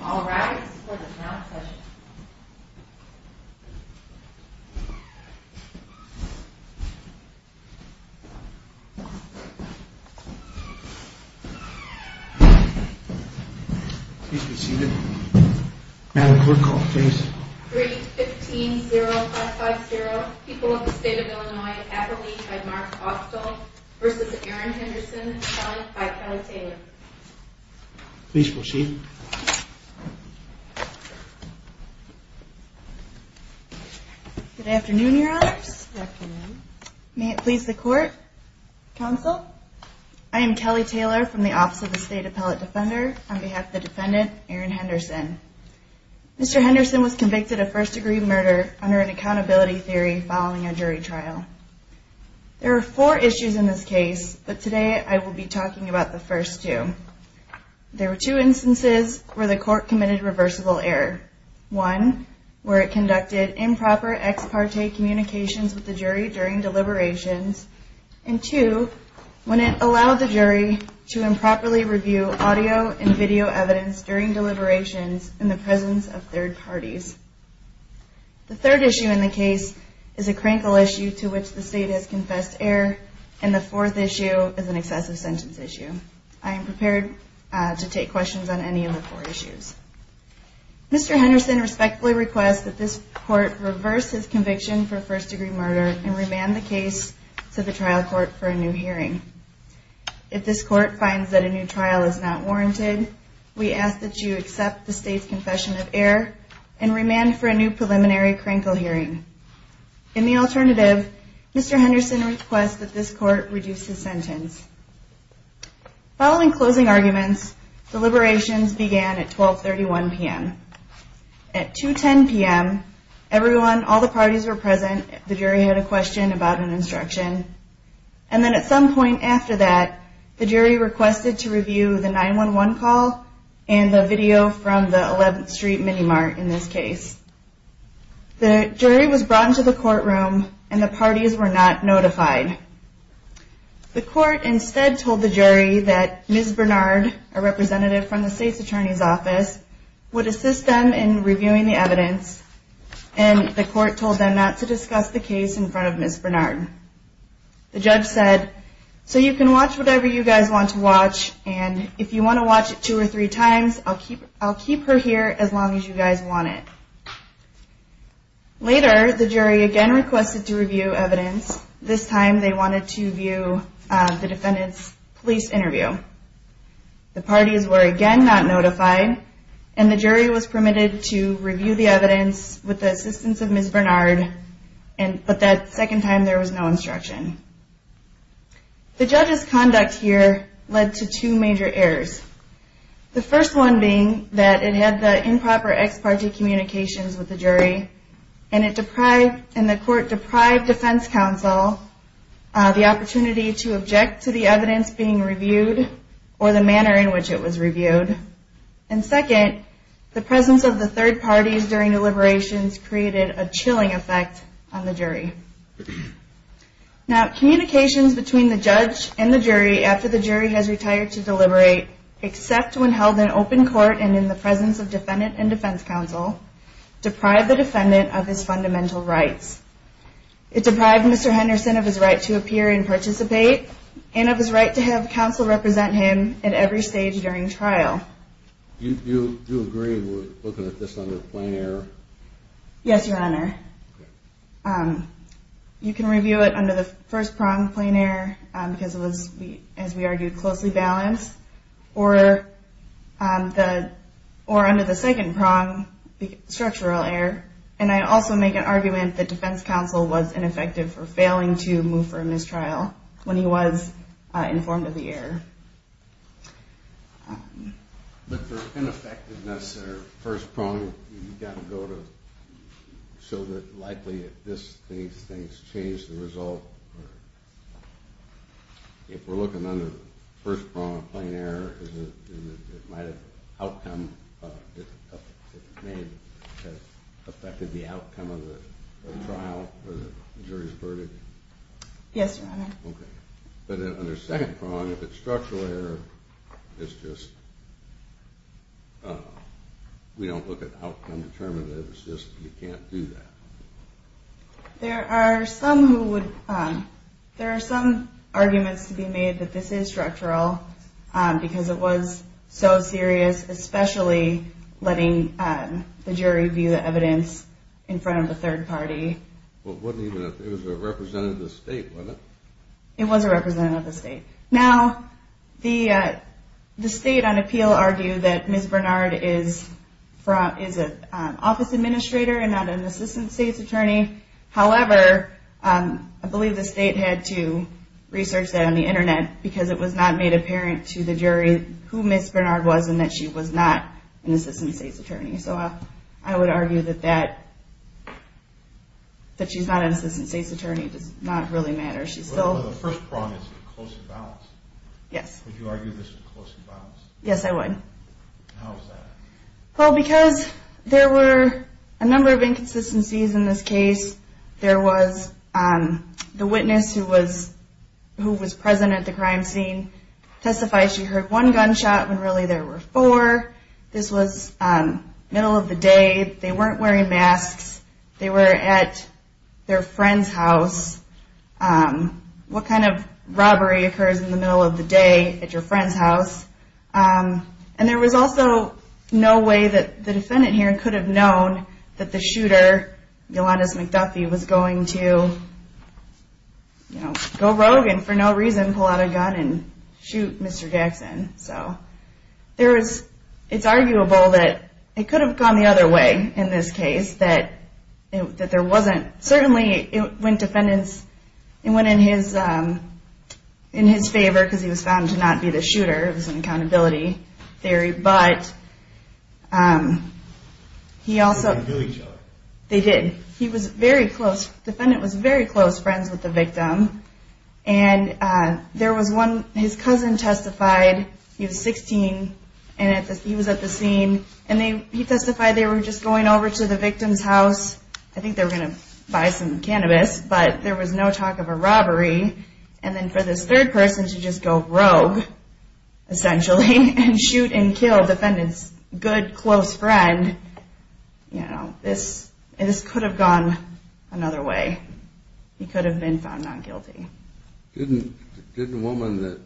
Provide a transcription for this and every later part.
All rise for the plenary session. 3-15-0-5-5-0. People of the State of Illinois. Appellee by Mark Austell v. Aaron Henderson. Please proceed. Good afternoon, Your Honors. Good afternoon. May it please the Court, Counsel? I am Kelly Taylor from the Office of the State Appellate Defender. On behalf of the defendant, Aaron Henderson. Mr. Henderson was convicted of first degree murder under an accountability theory following a jury trial. There are four issues in this case, but today I will be talking about the first two. There were two instances where the Court committed reversible error. One, where it conducted improper ex parte communications with the jury during deliberations. And two, when it allowed the jury to improperly review audio and video evidence during deliberations in the presence of third parties. The third issue in the case is a crankle issue to which the State has confessed error. And the fourth issue is an excessive sentence issue. I am prepared to take questions on any of the four issues. Mr. Henderson respectfully requests that this Court reverse his conviction for first degree murder and remand the case to the trial court for a new hearing. If this Court finds that a new trial is not warranted, we ask that you accept the State's confession of error and remand for a new preliminary crankle hearing. In the alternative, Mr. Henderson requests that this Court reduce his sentence. Following closing arguments, deliberations began at 1231 p.m. At 210 p.m., everyone, all the parties were present. The jury had a question about an instruction. And then at some point after that, the jury requested to review the 911 call and the video from the 11th Street Mini Mart in this case. The jury was brought into the courtroom and the parties were not notified. The Court instead told the jury that Ms. Bernard, a representative from the State's Attorney's Office, would assist them in reviewing the evidence. And the Court told them not to discuss the case in front of Ms. Bernard. The judge said, so you can watch whatever you guys want to watch and if you want to watch it two or three times, I'll keep her here as long as you guys want it. Later, the jury again requested to review evidence. This time they wanted to view the defendant's police interview. The parties were again not notified and the jury was permitted to review the evidence with the assistance of Ms. Bernard, but that second time there was no instruction. The judge's conduct here led to two major errors. The first one being that it had the improper ex parte communications with the jury and the Court deprived Defense Counsel the opportunity to object to the evidence being reviewed or the manner in which it was reviewed. And second, the presence of the third parties during deliberations created a chilling effect on the jury. Now, communications between the judge and the jury after the jury has retired to deliberate, except when held in open court and in the presence of Defendant and Defense Counsel, deprived the defendant of his fundamental rights. It deprived Mr. Henderson of his right to appear and participate and of his right to have counsel represent him at every stage during trial. You agree with looking at this under a plain error? Yes, Your Honor. You can review it under the first prong, plain error, because it was, as we argued, closely balanced, or under the second prong, structural error. And I also make an argument that Defense Counsel was ineffective for failing to move for a mistrial when he was informed of the error. But for ineffectiveness under the first prong, you've got to go to show that, likely, these things changed the result. If we're looking under the first prong, plain error, it might have affected the outcome of the trial or the jury's verdict. Yes, Your Honor. Okay. But under second prong, if it's structural error, it's just we don't look at outcome determinatives. It's just you can't do that. There are some arguments to be made that this is structural because it was so serious, especially letting the jury view the evidence in front of the third party. Well, it wasn't even a representative of the state, was it? It was a representative of the state. Now, the state on appeal argued that Ms. Bernard is an office administrator and not an assistant state's attorney. However, I believe the state had to research that on the Internet because it was not made apparent to the jury who Ms. Bernard was and that she was not an assistant state's attorney. So I would argue that she's not an assistant state's attorney. It does not really matter. The first prong is a close imbalance. Yes. Would you argue this is a close imbalance? Yes, I would. How is that? Well, because there were a number of inconsistencies in this case. There was the witness who was present at the crime scene testified she heard one gunshot when really there were four. This was middle of the day. They weren't wearing masks. They were at their friend's house. What kind of robbery occurs in the middle of the day at your friend's house? And there was also no way that the defendant here could have known that the shooter, Yolanda McDuffie, was going to go rogue and for no reason pull out a gun and shoot Mr. Jackson. It's arguable that it could have gone the other way in this case. Certainly it went in his favor because he was found to not be the shooter. It was an accountability theory, but he also... They knew each other. They did. He was very close. The defendant was very close friends with the victim. There was one... His cousin testified. He was 16. He was at the scene. He testified they were just going over to the victim's house. I think they were going to buy some cannabis, but there was no talk of a robbery. And then for this third person to just go rogue, essentially, and shoot and kill the defendant's good, close friend, this could have gone another way. He could have been found not guilty. Didn't the woman that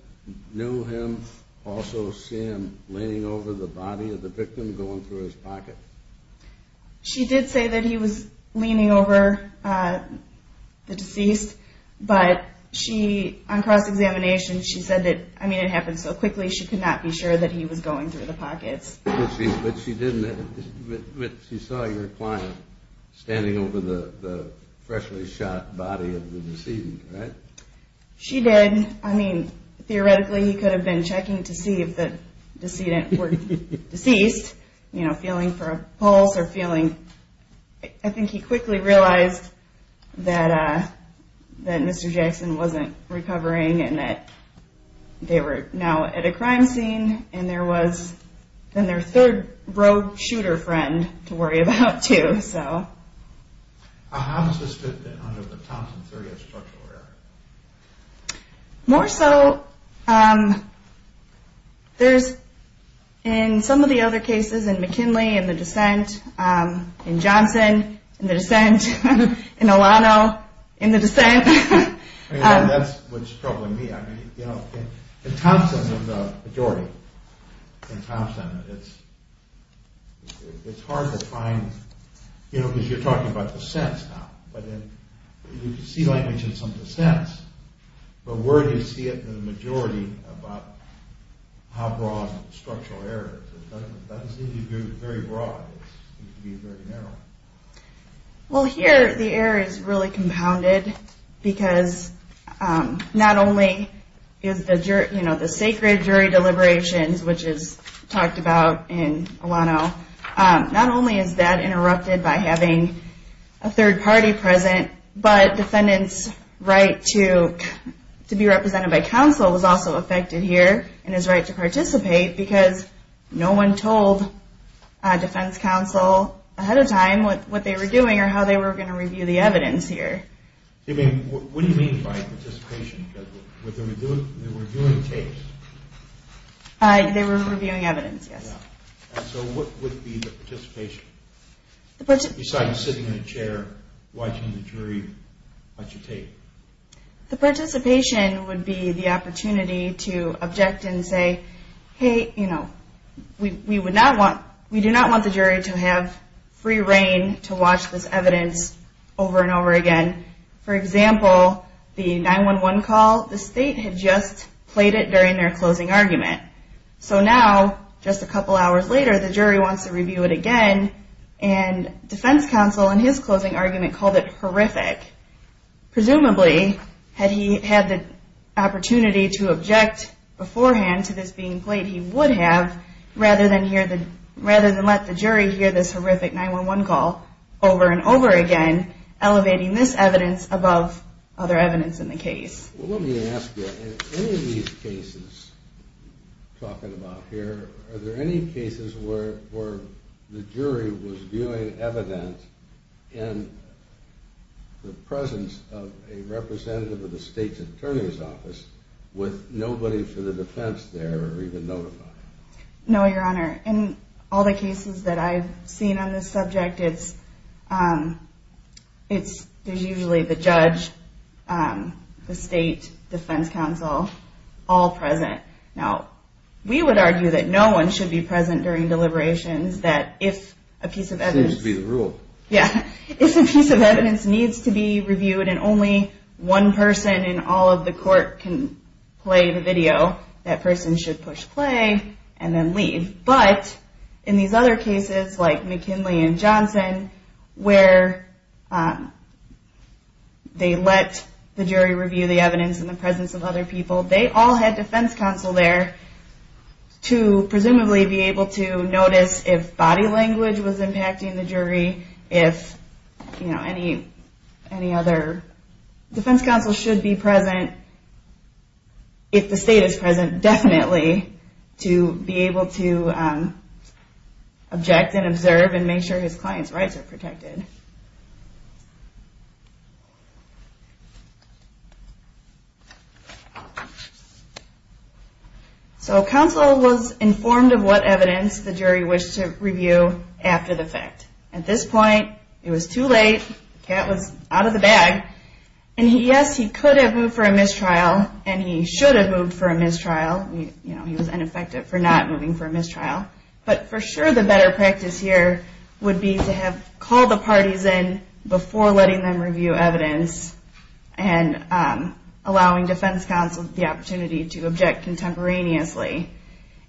knew him also see him leaning over the body of the victim, going through his pocket? She did say that he was leaning over the deceased, but she, on cross-examination, she said that, I mean, it happened so quickly, she could not be sure that he was going through the pockets. But she saw your client standing over the freshly shot body of the decedent, right? She did. I mean, theoretically, he could have been checking to see if the decedent were deceased, feeling for a pulse or feeling... I think he quickly realized that Mr. Jackson wasn't recovering and that they were now at a crime scene and there was then their third rogue shooter friend to worry about, too. How does this fit in under the Thompson 30th structural error? More so, there's, in some of the other cases, in McKinley, in the descent, in Johnson, in the descent, in Olano, in the descent. That's what's troubling me. In Thompson, the majority, in Thompson, it's hard to find, because you're talking about descents now, but you can see language in some descents, but where do you see it in the majority about how broad structural error is? It doesn't seem to be very broad. It seems to be very narrow. Well, here, the error is really compounded, because not only is the sacred jury deliberations, which is talked about in Olano, not only is that interrupted by having a third party present, but defendants' right to be represented by counsel was also affected here and his right to participate, because no one told defense counsel ahead of time what they were doing or how they were going to review the evidence here. What do you mean by participation? Because they were reviewing tapes. They were reviewing evidence, yes. So what would be the participation, besides sitting in a chair watching the jury watch a tape? The participation would be the opportunity to object and say, hey, we do not want the jury to have free reign to watch this evidence over and over again. For example, the 9-1-1 call, the state had just played it during their closing argument. So now, just a couple hours later, the jury wants to review it again, and defense counsel in his closing argument called it horrific. Presumably, had he had the opportunity to object beforehand to this being played, he would have, rather than let the jury hear this horrific 9-1-1 call over and over again, elevating this evidence above other evidence in the case. Let me ask you, in any of these cases we're talking about here, are there any cases where the jury was viewing evidence in the presence of a representative of the state's attorney's office with nobody for the defense there or even notified? No, Your Honor. In all the cases that I've seen on this subject, there's usually the judge, the state, defense counsel, all present. Now, we would argue that no one should be present during deliberations, that if a piece of evidence needs to be reviewed and only one person in all of the court can play the video, that person should push play and then leave. But in these other cases, like McKinley and Johnson, where they let the jury review the evidence in the presence of other people, they all had defense counsel there to presumably be able to notice if body language was impacting the jury, if any other defense counsel should be present, if the state is present, definitely, to be able to object and observe and make sure his client's rights are protected. So counsel was informed of what evidence the jury wished to review after the fact. At this point, it was too late, the cat was out of the bag, and yes, he could have moved for a mistrial, and he should have moved for a mistrial. He was ineffective for not moving for a mistrial. But for sure the better practice here would be to have called the parties in before letting them review evidence and allowing defense counsel the opportunity to object contemporaneously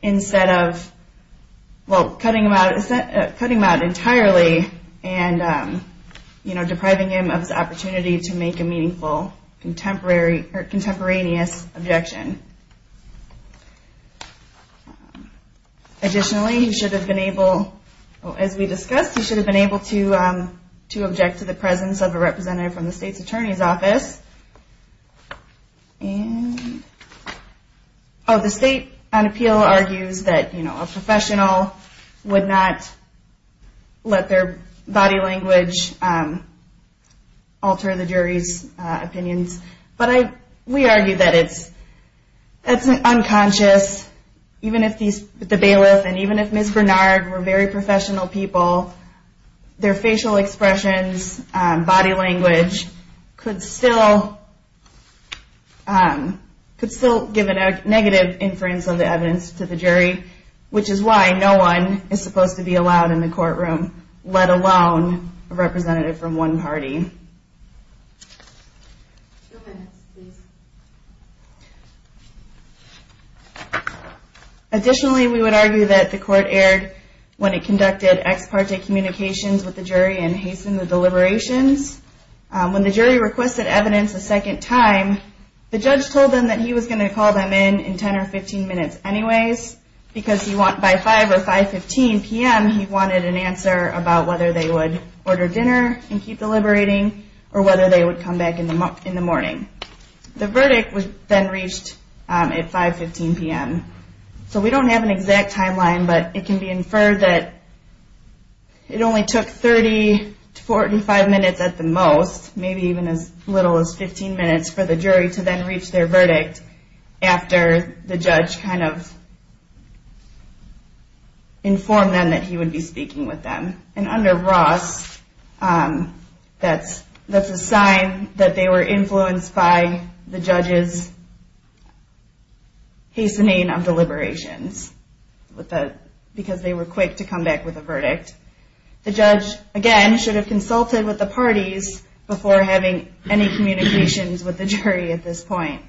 instead of cutting him out entirely and depriving him of his opportunity to make a meaningful contemporaneous objection. Additionally, he should have been able, as we discussed, he should have been able to object to the presence of a representative from the state's attorney's office. The state on appeal argues that a professional would not let their body language alter the jury's opinions, but we argue that it's unconscious, even if the bailiff and even if Ms. Bernard were very professional people, their facial expressions, body language, could still give a negative inference of the evidence to the jury, which is why no one is supposed to be allowed in the courtroom, let alone a representative from one party. Additionally, we would argue that the court erred when it conducted ex parte communications with the jury and hastened the deliberations. When the jury requested evidence a second time, the judge told them that he was going to call them in in 10 or 15 minutes anyways because by 5 or 5.15 p.m. he wanted an answer about whether they would order dinner and keep deliberating or whether they would come back in the morning. The verdict was then reached at 5.15 p.m. So we don't have an exact timeline, but it can be inferred that it only took 30 to 45 minutes at the most, maybe even as little as 15 minutes for the jury to then reach their verdict after the judge kind of informed them that he would be speaking with them. And under Ross, that's a sign that they were influenced by the judge's hastening of deliberations because they were quick to come back with a verdict. The judge, again, should have consulted with the parties before having any communications with the jury at this point.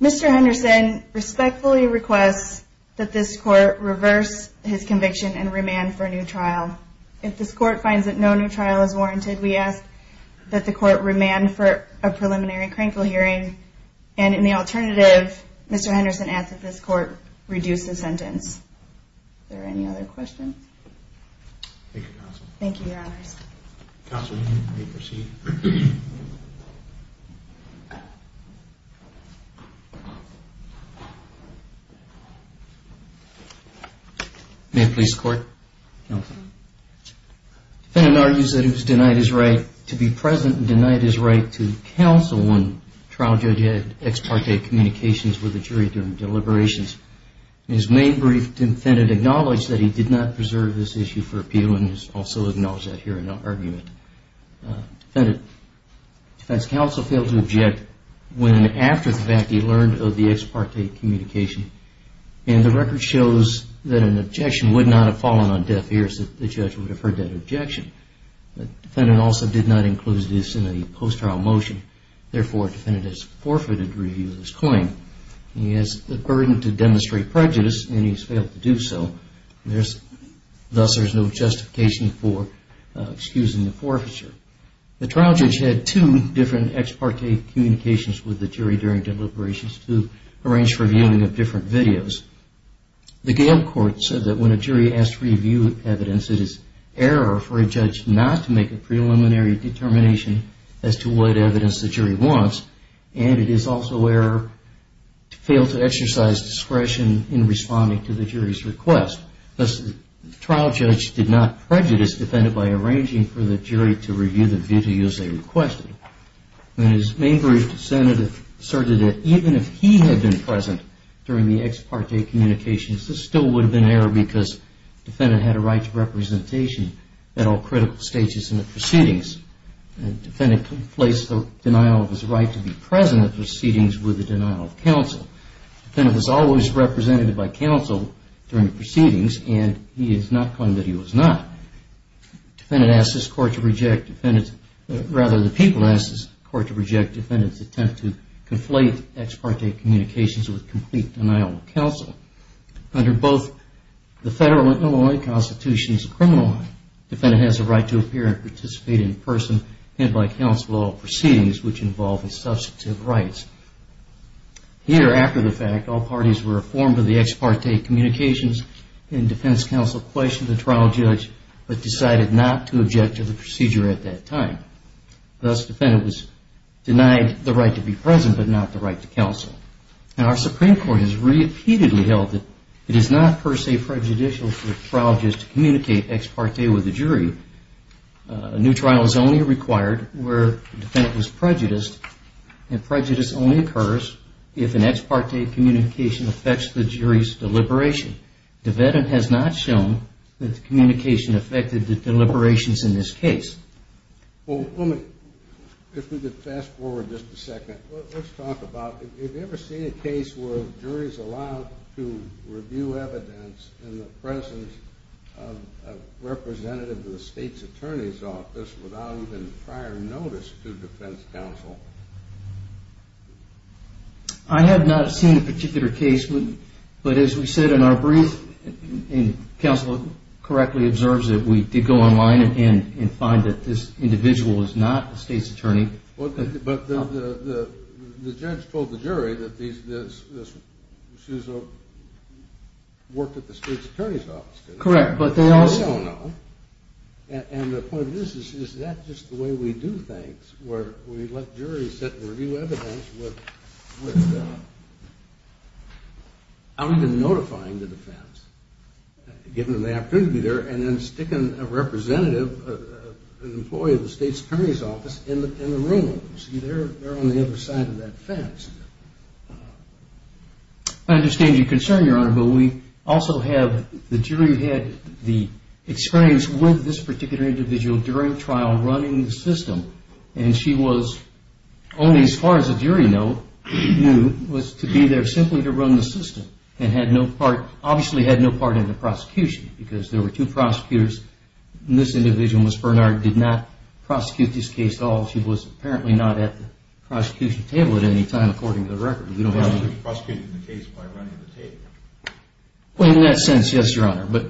Mr. Henderson respectfully requests that this court reverse his conviction and remand for a new trial. If this court finds that no new trial is warranted, we ask that the court remand for a preliminary crankle hearing. And in the alternative, Mr. Henderson asks that this court reduce the sentence. Are there any other questions? Thank you, Counsel. Thank you, Your Honors. Counsel, you may proceed. May it please the Court? Counsel. The defendant argues that he was denied his right to be present and denied his right to counsel on trial judge-ex parte communications with the jury during deliberations. In his main brief, the defendant acknowledged that he did not preserve this issue for appeal and has also acknowledged that here in the argument. The defense counsel failed to object when and after the fact he learned of the ex parte communication. And the record shows that an objection would not have fallen on deaf ears if the judge would have heard that objection. The defendant also did not enclose this in a post-trial motion. Therefore, the defendant has forfeited review of his claim. He has the burden to demonstrate prejudice and he has failed to do so. Thus, there is no justification for excusing the forfeiture. The trial judge had two different ex parte communications with the jury during deliberations to arrange for viewing of different videos. The Gale Court said that when a jury asks to review evidence, it is error for a judge not to make a preliminary determination as to what evidence the jury wants. And it is also error to fail to exercise discretion in responding to the jury's request. Thus, the trial judge did not prejudice the defendant by arranging for the jury to review the videos they requested. In his main brief, the defendant asserted that even if he had been present during the ex parte communications, this still would have been error because the defendant had a right to representation at all critical stages in the proceedings. The defendant conflates the denial of his right to be present at proceedings with the denial of counsel. The defendant is always represented by counsel during proceedings and he has not claimed that he was not. The defendant asks this court to reject defendant's, rather the people ask this court to reject defendant's attempt to conflate ex parte communications with complete denial of counsel. Under both the federal and Illinois constitutions of criminal law, the defendant has the right to appear and participate in person and by counsel at all proceedings which involve his substantive rights. Here, after the fact, all parties were informed of the ex parte communications and defense counsel questioned the trial judge but decided not to object to the procedure at that time. Thus, the defendant was denied the right to be present but not the right to counsel. Our Supreme Court has repeatedly held that it is not per se prejudicial for the trial judge to communicate ex parte with the jury. A new trial is only required where the defendant was prejudiced and prejudice only occurs if an ex parte communication affects the jury's deliberation. The defendant has not shown that the communication affected the deliberations in this case. Well, let me, if we could fast forward just a second. Let's talk about, have you ever seen a case where juries are allowed to review evidence in the presence of a representative of the state's attorney's office without even prior notice to defense counsel? I have not seen a particular case, but as we said in our brief, and counsel correctly observes that we did go online Well, but the judge told the jury that this, she's worked at the state's attorney's office. Correct, but they also know. And the point of this is, is that just the way we do things where we let juries sit and review evidence without even notifying the defense, giving them the opportunity to be there and then sticking a representative, an employee of the state's attorney's office in the room. See, they're on the other side of that fence. I understand your concern, Your Honor, but we also have, the jury had the experience with this particular individual during trial running the system and she was, only as far as the jury knew, was to be there simply to run the system and had no part, obviously had no part in the prosecution because there were two prosecutors. This individual, Ms. Bernard, did not prosecute this case at all. She was apparently not at the prosecution table at any time, according to the record. She was prosecuting the case by running the table. Well, in that sense, yes, Your Honor, but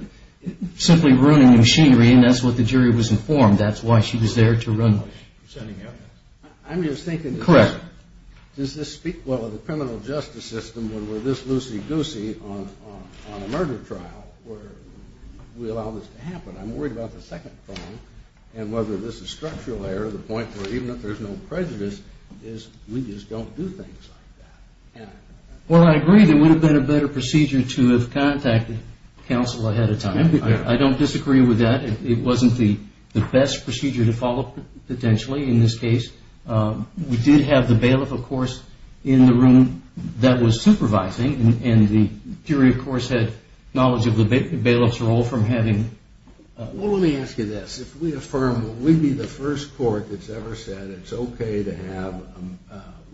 simply ruining the machinery, and that's what the jury was informed. That's why she was there to run the case. I'm just thinking this. Correct. Does this speak well of the criminal justice system when we're this loosey-goosey on a murder trial where we allow this to happen? I'm worried about the second phone and whether this is structural error, the point where even if there's no prejudice, is we just don't do things like that. Well, I agree there would have been a better procedure to have contacted counsel ahead of time. I don't disagree with that. It wasn't the best procedure to follow, potentially, in this case. We did have the bailiff, of course, in the room that was supervising, and the jury, of course, had knowledge of the bailiff's role from having... Well, let me ask you this. If we affirm, will we be the first court that's ever said it's okay to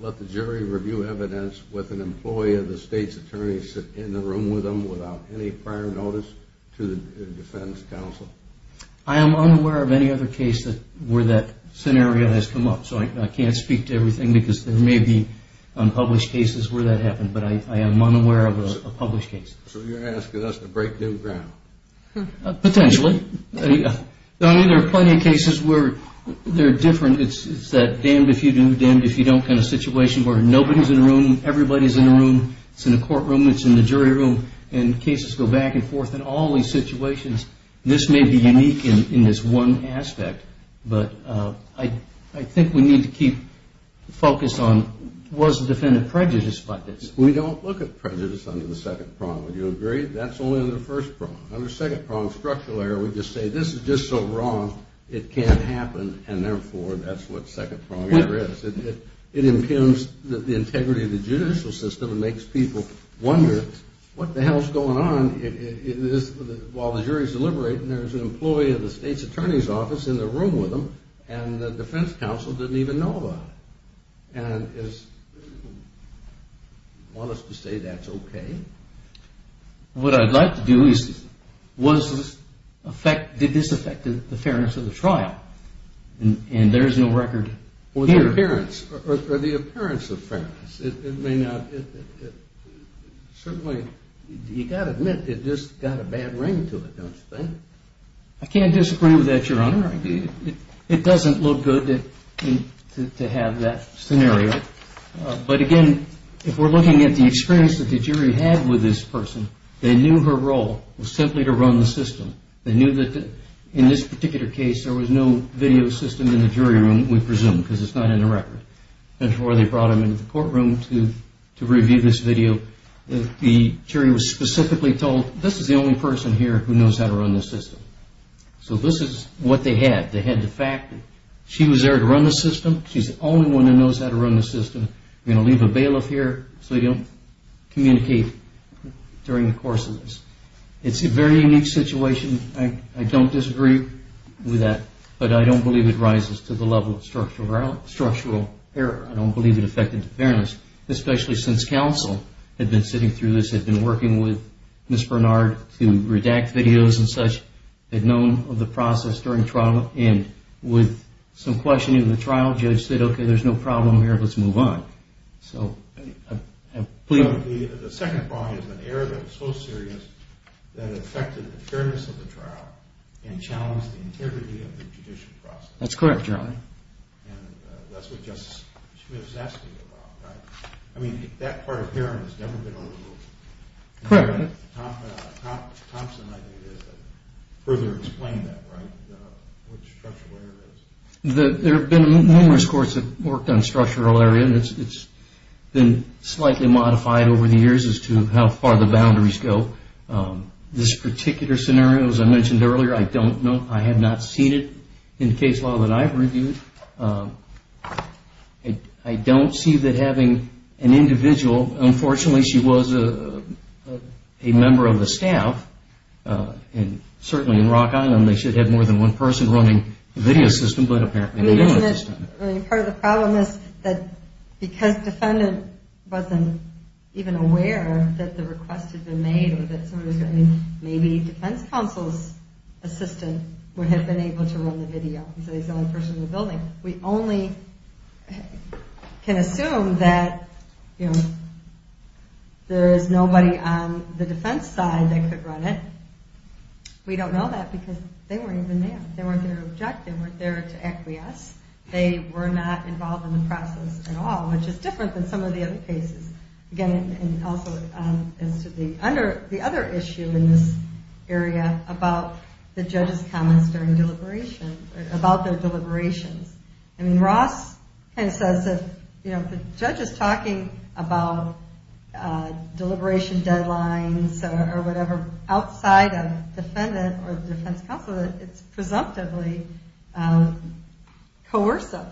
let the jury review evidence with an employee of the state's attorney sit in the room with them without any prior notice to the defense counsel? I am unaware of any other case where that scenario has come up, so I can't speak to everything because there may be unpublished cases where that happened, but I am unaware of a published case. So you're asking us to break new ground? Potentially. I mean, there are plenty of cases where they're different. It's that damned if you do, damned if you don't kind of situation where nobody's in a room, everybody's in a room, it's in a courtroom, it's in the jury room, and cases go back and forth in all these situations. This may be unique in this one aspect, but I think we need to keep the focus on was the defendant prejudiced by this? We don't look at prejudice under the second prong, would you agree? That's only under the first prong. Under second prong structural error, we just say, this is just so wrong, it can't happen, and therefore that's what second prong error is. It impugns the integrity of the judicial system and makes people wonder what the hell's going on while the jury's deliberating. There's an employee of the state's attorney's office in the room with him and the defense counsel didn't even know about it. And you want us to say that's okay? What I'd like to do is, did this affect the fairness of the trial? And there's no record here. Or the appearance of fairness. It may not. Certainly, you've got to admit, it just got a bad ring to it, don't you think? I can't disagree with that, Your Honor. It doesn't look good to have that scenario. But again, if we're looking at the experience that the jury had with this person, they knew her role was simply to run the system. They knew that in this particular case there was no video system in the jury room, we presume, because it's not in the record. That's why they brought him into the courtroom to review this video. The jury was specifically told, this is the only person here who knows how to run the system. So this is what they had. They had the fact that she was there to run the system. She's the only one who knows how to run the system. We're going to leave a bailiff here so you don't communicate during the course of this. It's a very unique situation. I don't disagree with that. But I don't believe it rises to the level of structural error. I don't believe it affected fairness, especially since counsel had been sitting through this, had been working with Ms. Bernard to redact videos and such, had known of the process during trial, and with some questioning of the trial, the judge said, okay, there's no problem here, let's move on. So... The second problem is an error that was so serious that it affected the fairness of the trial and challenged the integrity of the judicial process. That's correct, Your Honor. And that's what Justice Smith's asking about, right? I mean, that part of Heron has never been overlooked. Correct. Thompson, I think, further explained that, right? What structural error is. There have been numerous courts that have worked on structural error, and it's been slightly modified over the years as to how far the boundaries go. This particular scenario, as I mentioned earlier, I don't know. I have not seen it in case law that I've reviewed. I don't see that having an individual... Unfortunately, she was a member of the staff, and certainly in Rock Island, they should have had more than one person running the video system, but apparently they didn't at this time. Part of the problem is that, because the defendant wasn't even aware that the request had been made, or that maybe defense counsel's assistant would have been able to run the video. He's the only person in the building. We only can assume that, you know, there is nobody on the defense side that could run it. We don't know that because they weren't even there. They weren't there to object. They weren't there to acquiesce. They were not involved in the process at all, which is different than some of the other cases. Again, and also as to the other issue in this area about the judge's comments during deliberations, about their deliberations. I mean, Ross kind of says that, you know, if the judge is talking about deliberation deadlines or whatever outside of defendant or defense counsel, it's presumptively coercive.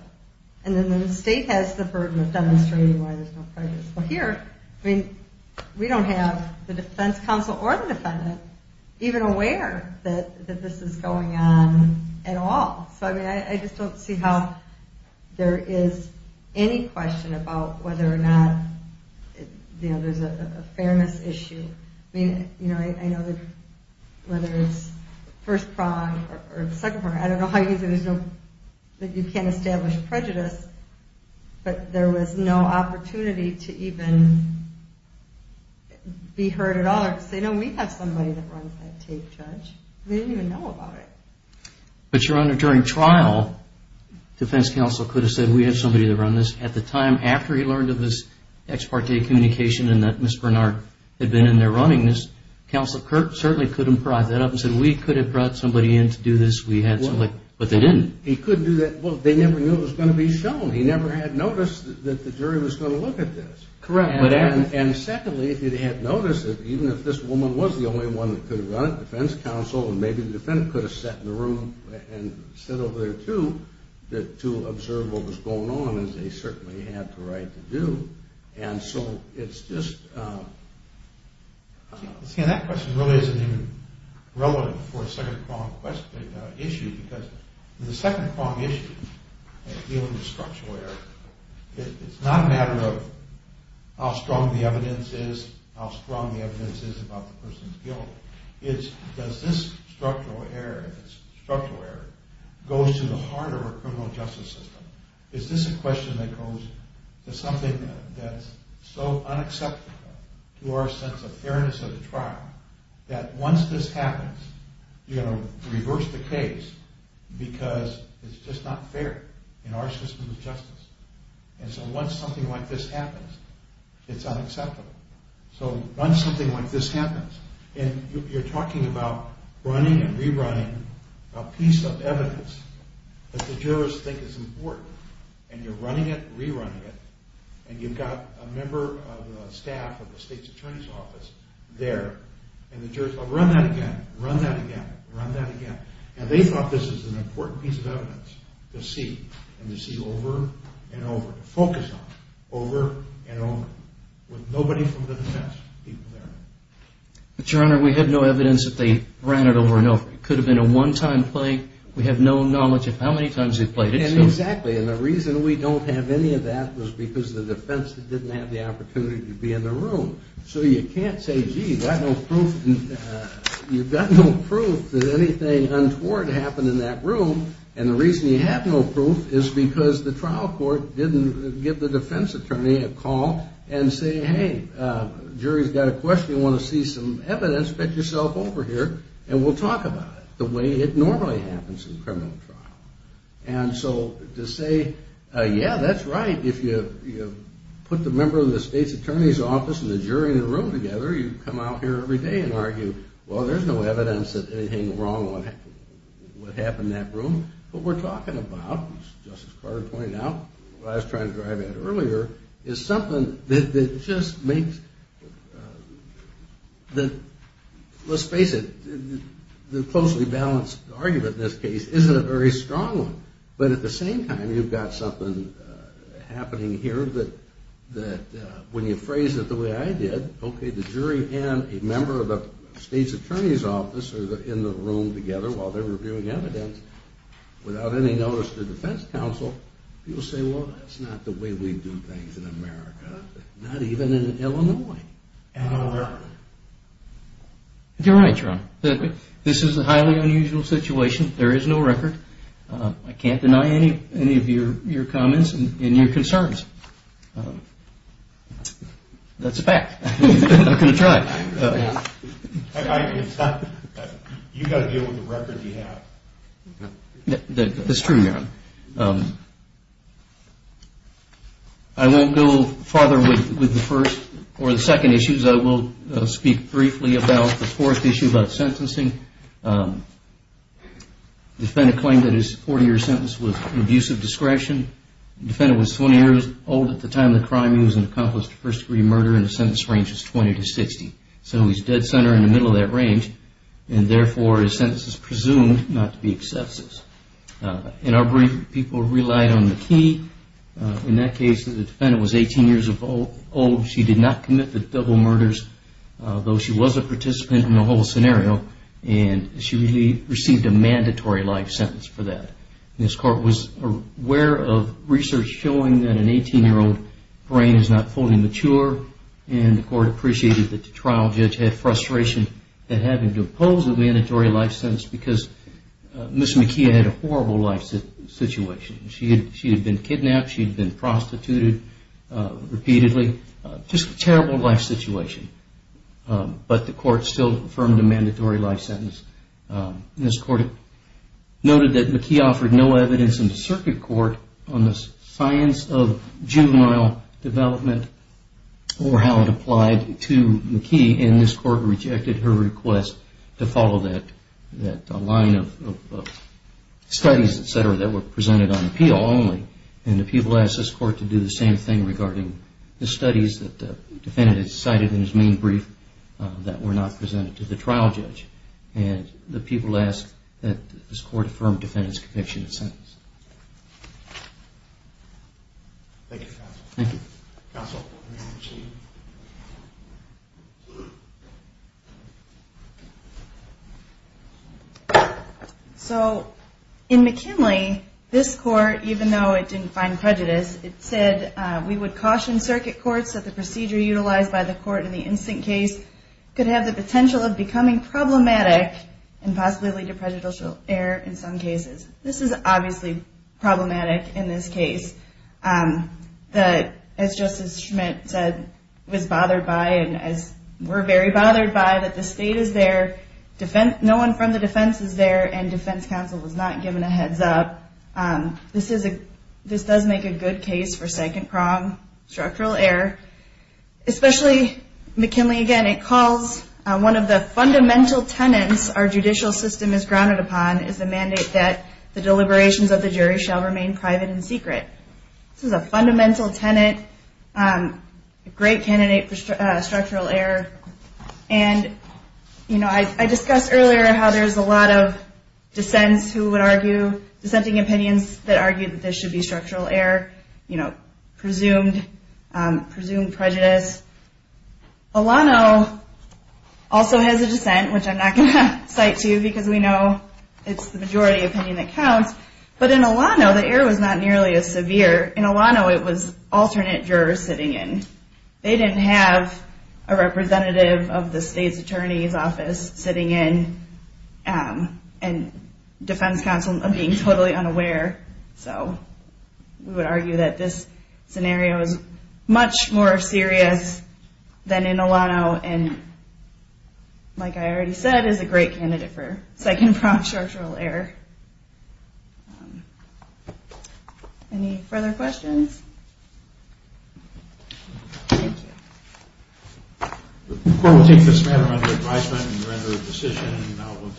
And then the state has the burden of demonstrating why there's no prejudice. Well, here, I mean, we don't have the defense counsel or the defendant even aware that this is going on at all. So, I mean, I just don't see how there is any question about whether or not, you know, there's a fairness issue. I mean, you know, I know that whether it's first prong or second prong, I don't know how you use it. There's no... But there was no opportunity to even be heard at all or say, no, we have somebody that runs that tape, Judge. They didn't even know about it. But, Your Honor, during trial, defense counsel could have said, we have somebody that runs this. At the time after he learned of this ex parte communication and that Ms. Bernard had been in there running this, counsel certainly could have brought that up and said, we could have brought somebody in to do this. We had somebody. But they didn't. He couldn't do that. Well, they never knew it was going to be shown. He never had noticed that the jury was going to look at this. Correct. And secondly, if he had noticed it, even if this woman was the only one that could have run it, defense counsel and maybe the defendant could have sat in the room and said over there, too, to observe what was going on, as they certainly had the right to do. And so it's just... That question really isn't even relevant for a second prong issue because the second prong issue in dealing with structural error, it's not a matter of how strong the evidence is, how strong the evidence is about the person's guilt. It's does this structural error go to the heart of a criminal justice system? Is this a question that goes to something that's so unacceptable to our sense of fairness of the trial that once this happens, you're going to reverse the case because it's just not fair in our system of justice. And so once something like this happens, it's unacceptable. So once something like this happens, and you're talking about running and rerunning a piece of evidence that the jurors think is important, and you're running it, rerunning it, and you've got a member of the staff of the state's attorney's office there, and the jurors go, run that again, run that again, run that again. And they thought this was an important piece of evidence to see, and to see over and over, to focus on over and over, with nobody from the defense people there. But, Your Honor, we have no evidence that they ran it over and over. It could have been a one-time play. We have no knowledge of how many times they played it. And exactly, and the reason we don't have any of that was because the defense didn't have the opportunity to be in the room. So you can't say, gee, you've got no proof that anything untoward happened in that room, and the reason you have no proof is because the trial court didn't give the defense attorney a call and say, hey, jury's got a question, you want to see some evidence, get yourself over here, and we'll talk about it the way it normally happens in a criminal trial. And so to say, yeah, that's right, if you put the member of the state's attorney's office and the jury in a room together, you come out here every day and argue, well, there's no evidence that anything wrong would happen in that room. What we're talking about, as Justice Carter pointed out, what I was trying to drive at earlier, is something that just makes the, let's face it, the closely balanced argument in this case isn't a very strong one, but at the same time, you've got something happening here that when you phrase it the way I did, okay, the jury and a member of the state's attorney's office are in the room together while they're reviewing evidence without any notice to the defense counsel, people say, well, that's not the way we do things in America, not even in Illinois. You're right, Your Honor. This is a highly unusual situation. There is no record. I can't deny any of your comments and your concerns. That's a fact. I'm going to try. You've got to deal with the record you have. That's true, Your Honor. I won't go farther with the first or the second issues. I will speak briefly about the fourth issue about sentencing. Defendant claimed that his 40-year sentence was an abuse of discretion. Defendant was 20 years old at the time of the crime. He was an accomplice to first-degree murder and his sentence range is 20 to 60. So he's dead center in the middle of that range, and therefore his sentence is presumed not to be excessive. In our brief, people relied on the key. In that case, the defendant was 18 years old. She did not commit the double murders, though she was a participant in the whole scenario, and she received a mandatory life sentence for that. This court was aware of research showing that an 18-year-old brain is not fully mature, and the court appreciated that the trial judge had frustration at having to impose a mandatory life sentence because Ms. McKee had a horrible life situation. She had been kidnapped. She had been prostituted repeatedly. Just a terrible life situation, but the court still affirmed a mandatory life sentence. This court noted that McKee offered no evidence in the circuit court on the science of juvenile development or how it applied to McKee, and this court rejected her request to follow that line of studies, et cetera, that were presented on appeal only, and the people asked this court to do the same thing regarding the studies that the defendant had cited in his main brief that were not presented to the trial judge, and the people asked that this court affirm the defendant's conviction in the sentence. Thank you, counsel. Thank you. Counsel. Thank you. So in McKinley, this court, even though it didn't find prejudice, it said we would caution circuit courts that the procedure utilized by the court in the instant case could have the potential of becoming problematic and possibly lead to prejudicial error in some cases. This is obviously problematic in this case. As Justice Schmitt said, was bothered by, and as we're very bothered by, that the state is there, no one from the defense is there, and defense counsel was not given a heads up. This does make a good case for second prong structural error, especially McKinley, again, it calls one of the fundamental tenets our judicial system is grounded upon is the mandate that the deliberations of the jury shall remain private and secret. This is a fundamental tenet, a great candidate for structural error, and I discussed earlier how there's a lot of dissents who would argue, dissenting opinions that argue that this should be structural error, presumed prejudice. Olano also has a dissent, which I'm not going to cite to you because we know it's the majority opinion that counts, but in Olano the error was not nearly as severe. In Olano it was alternate jurors sitting in. They didn't have a representative of the state's attorney's office sitting in and defense counsel being totally unaware, so we would argue that this scenario is much more serious than in Olano and, like I already said, is a great candidate for second prong structural error. Any further questions? Thank you. We'll take this matter under advisement and render a decision, and now we'll take a break for panel change.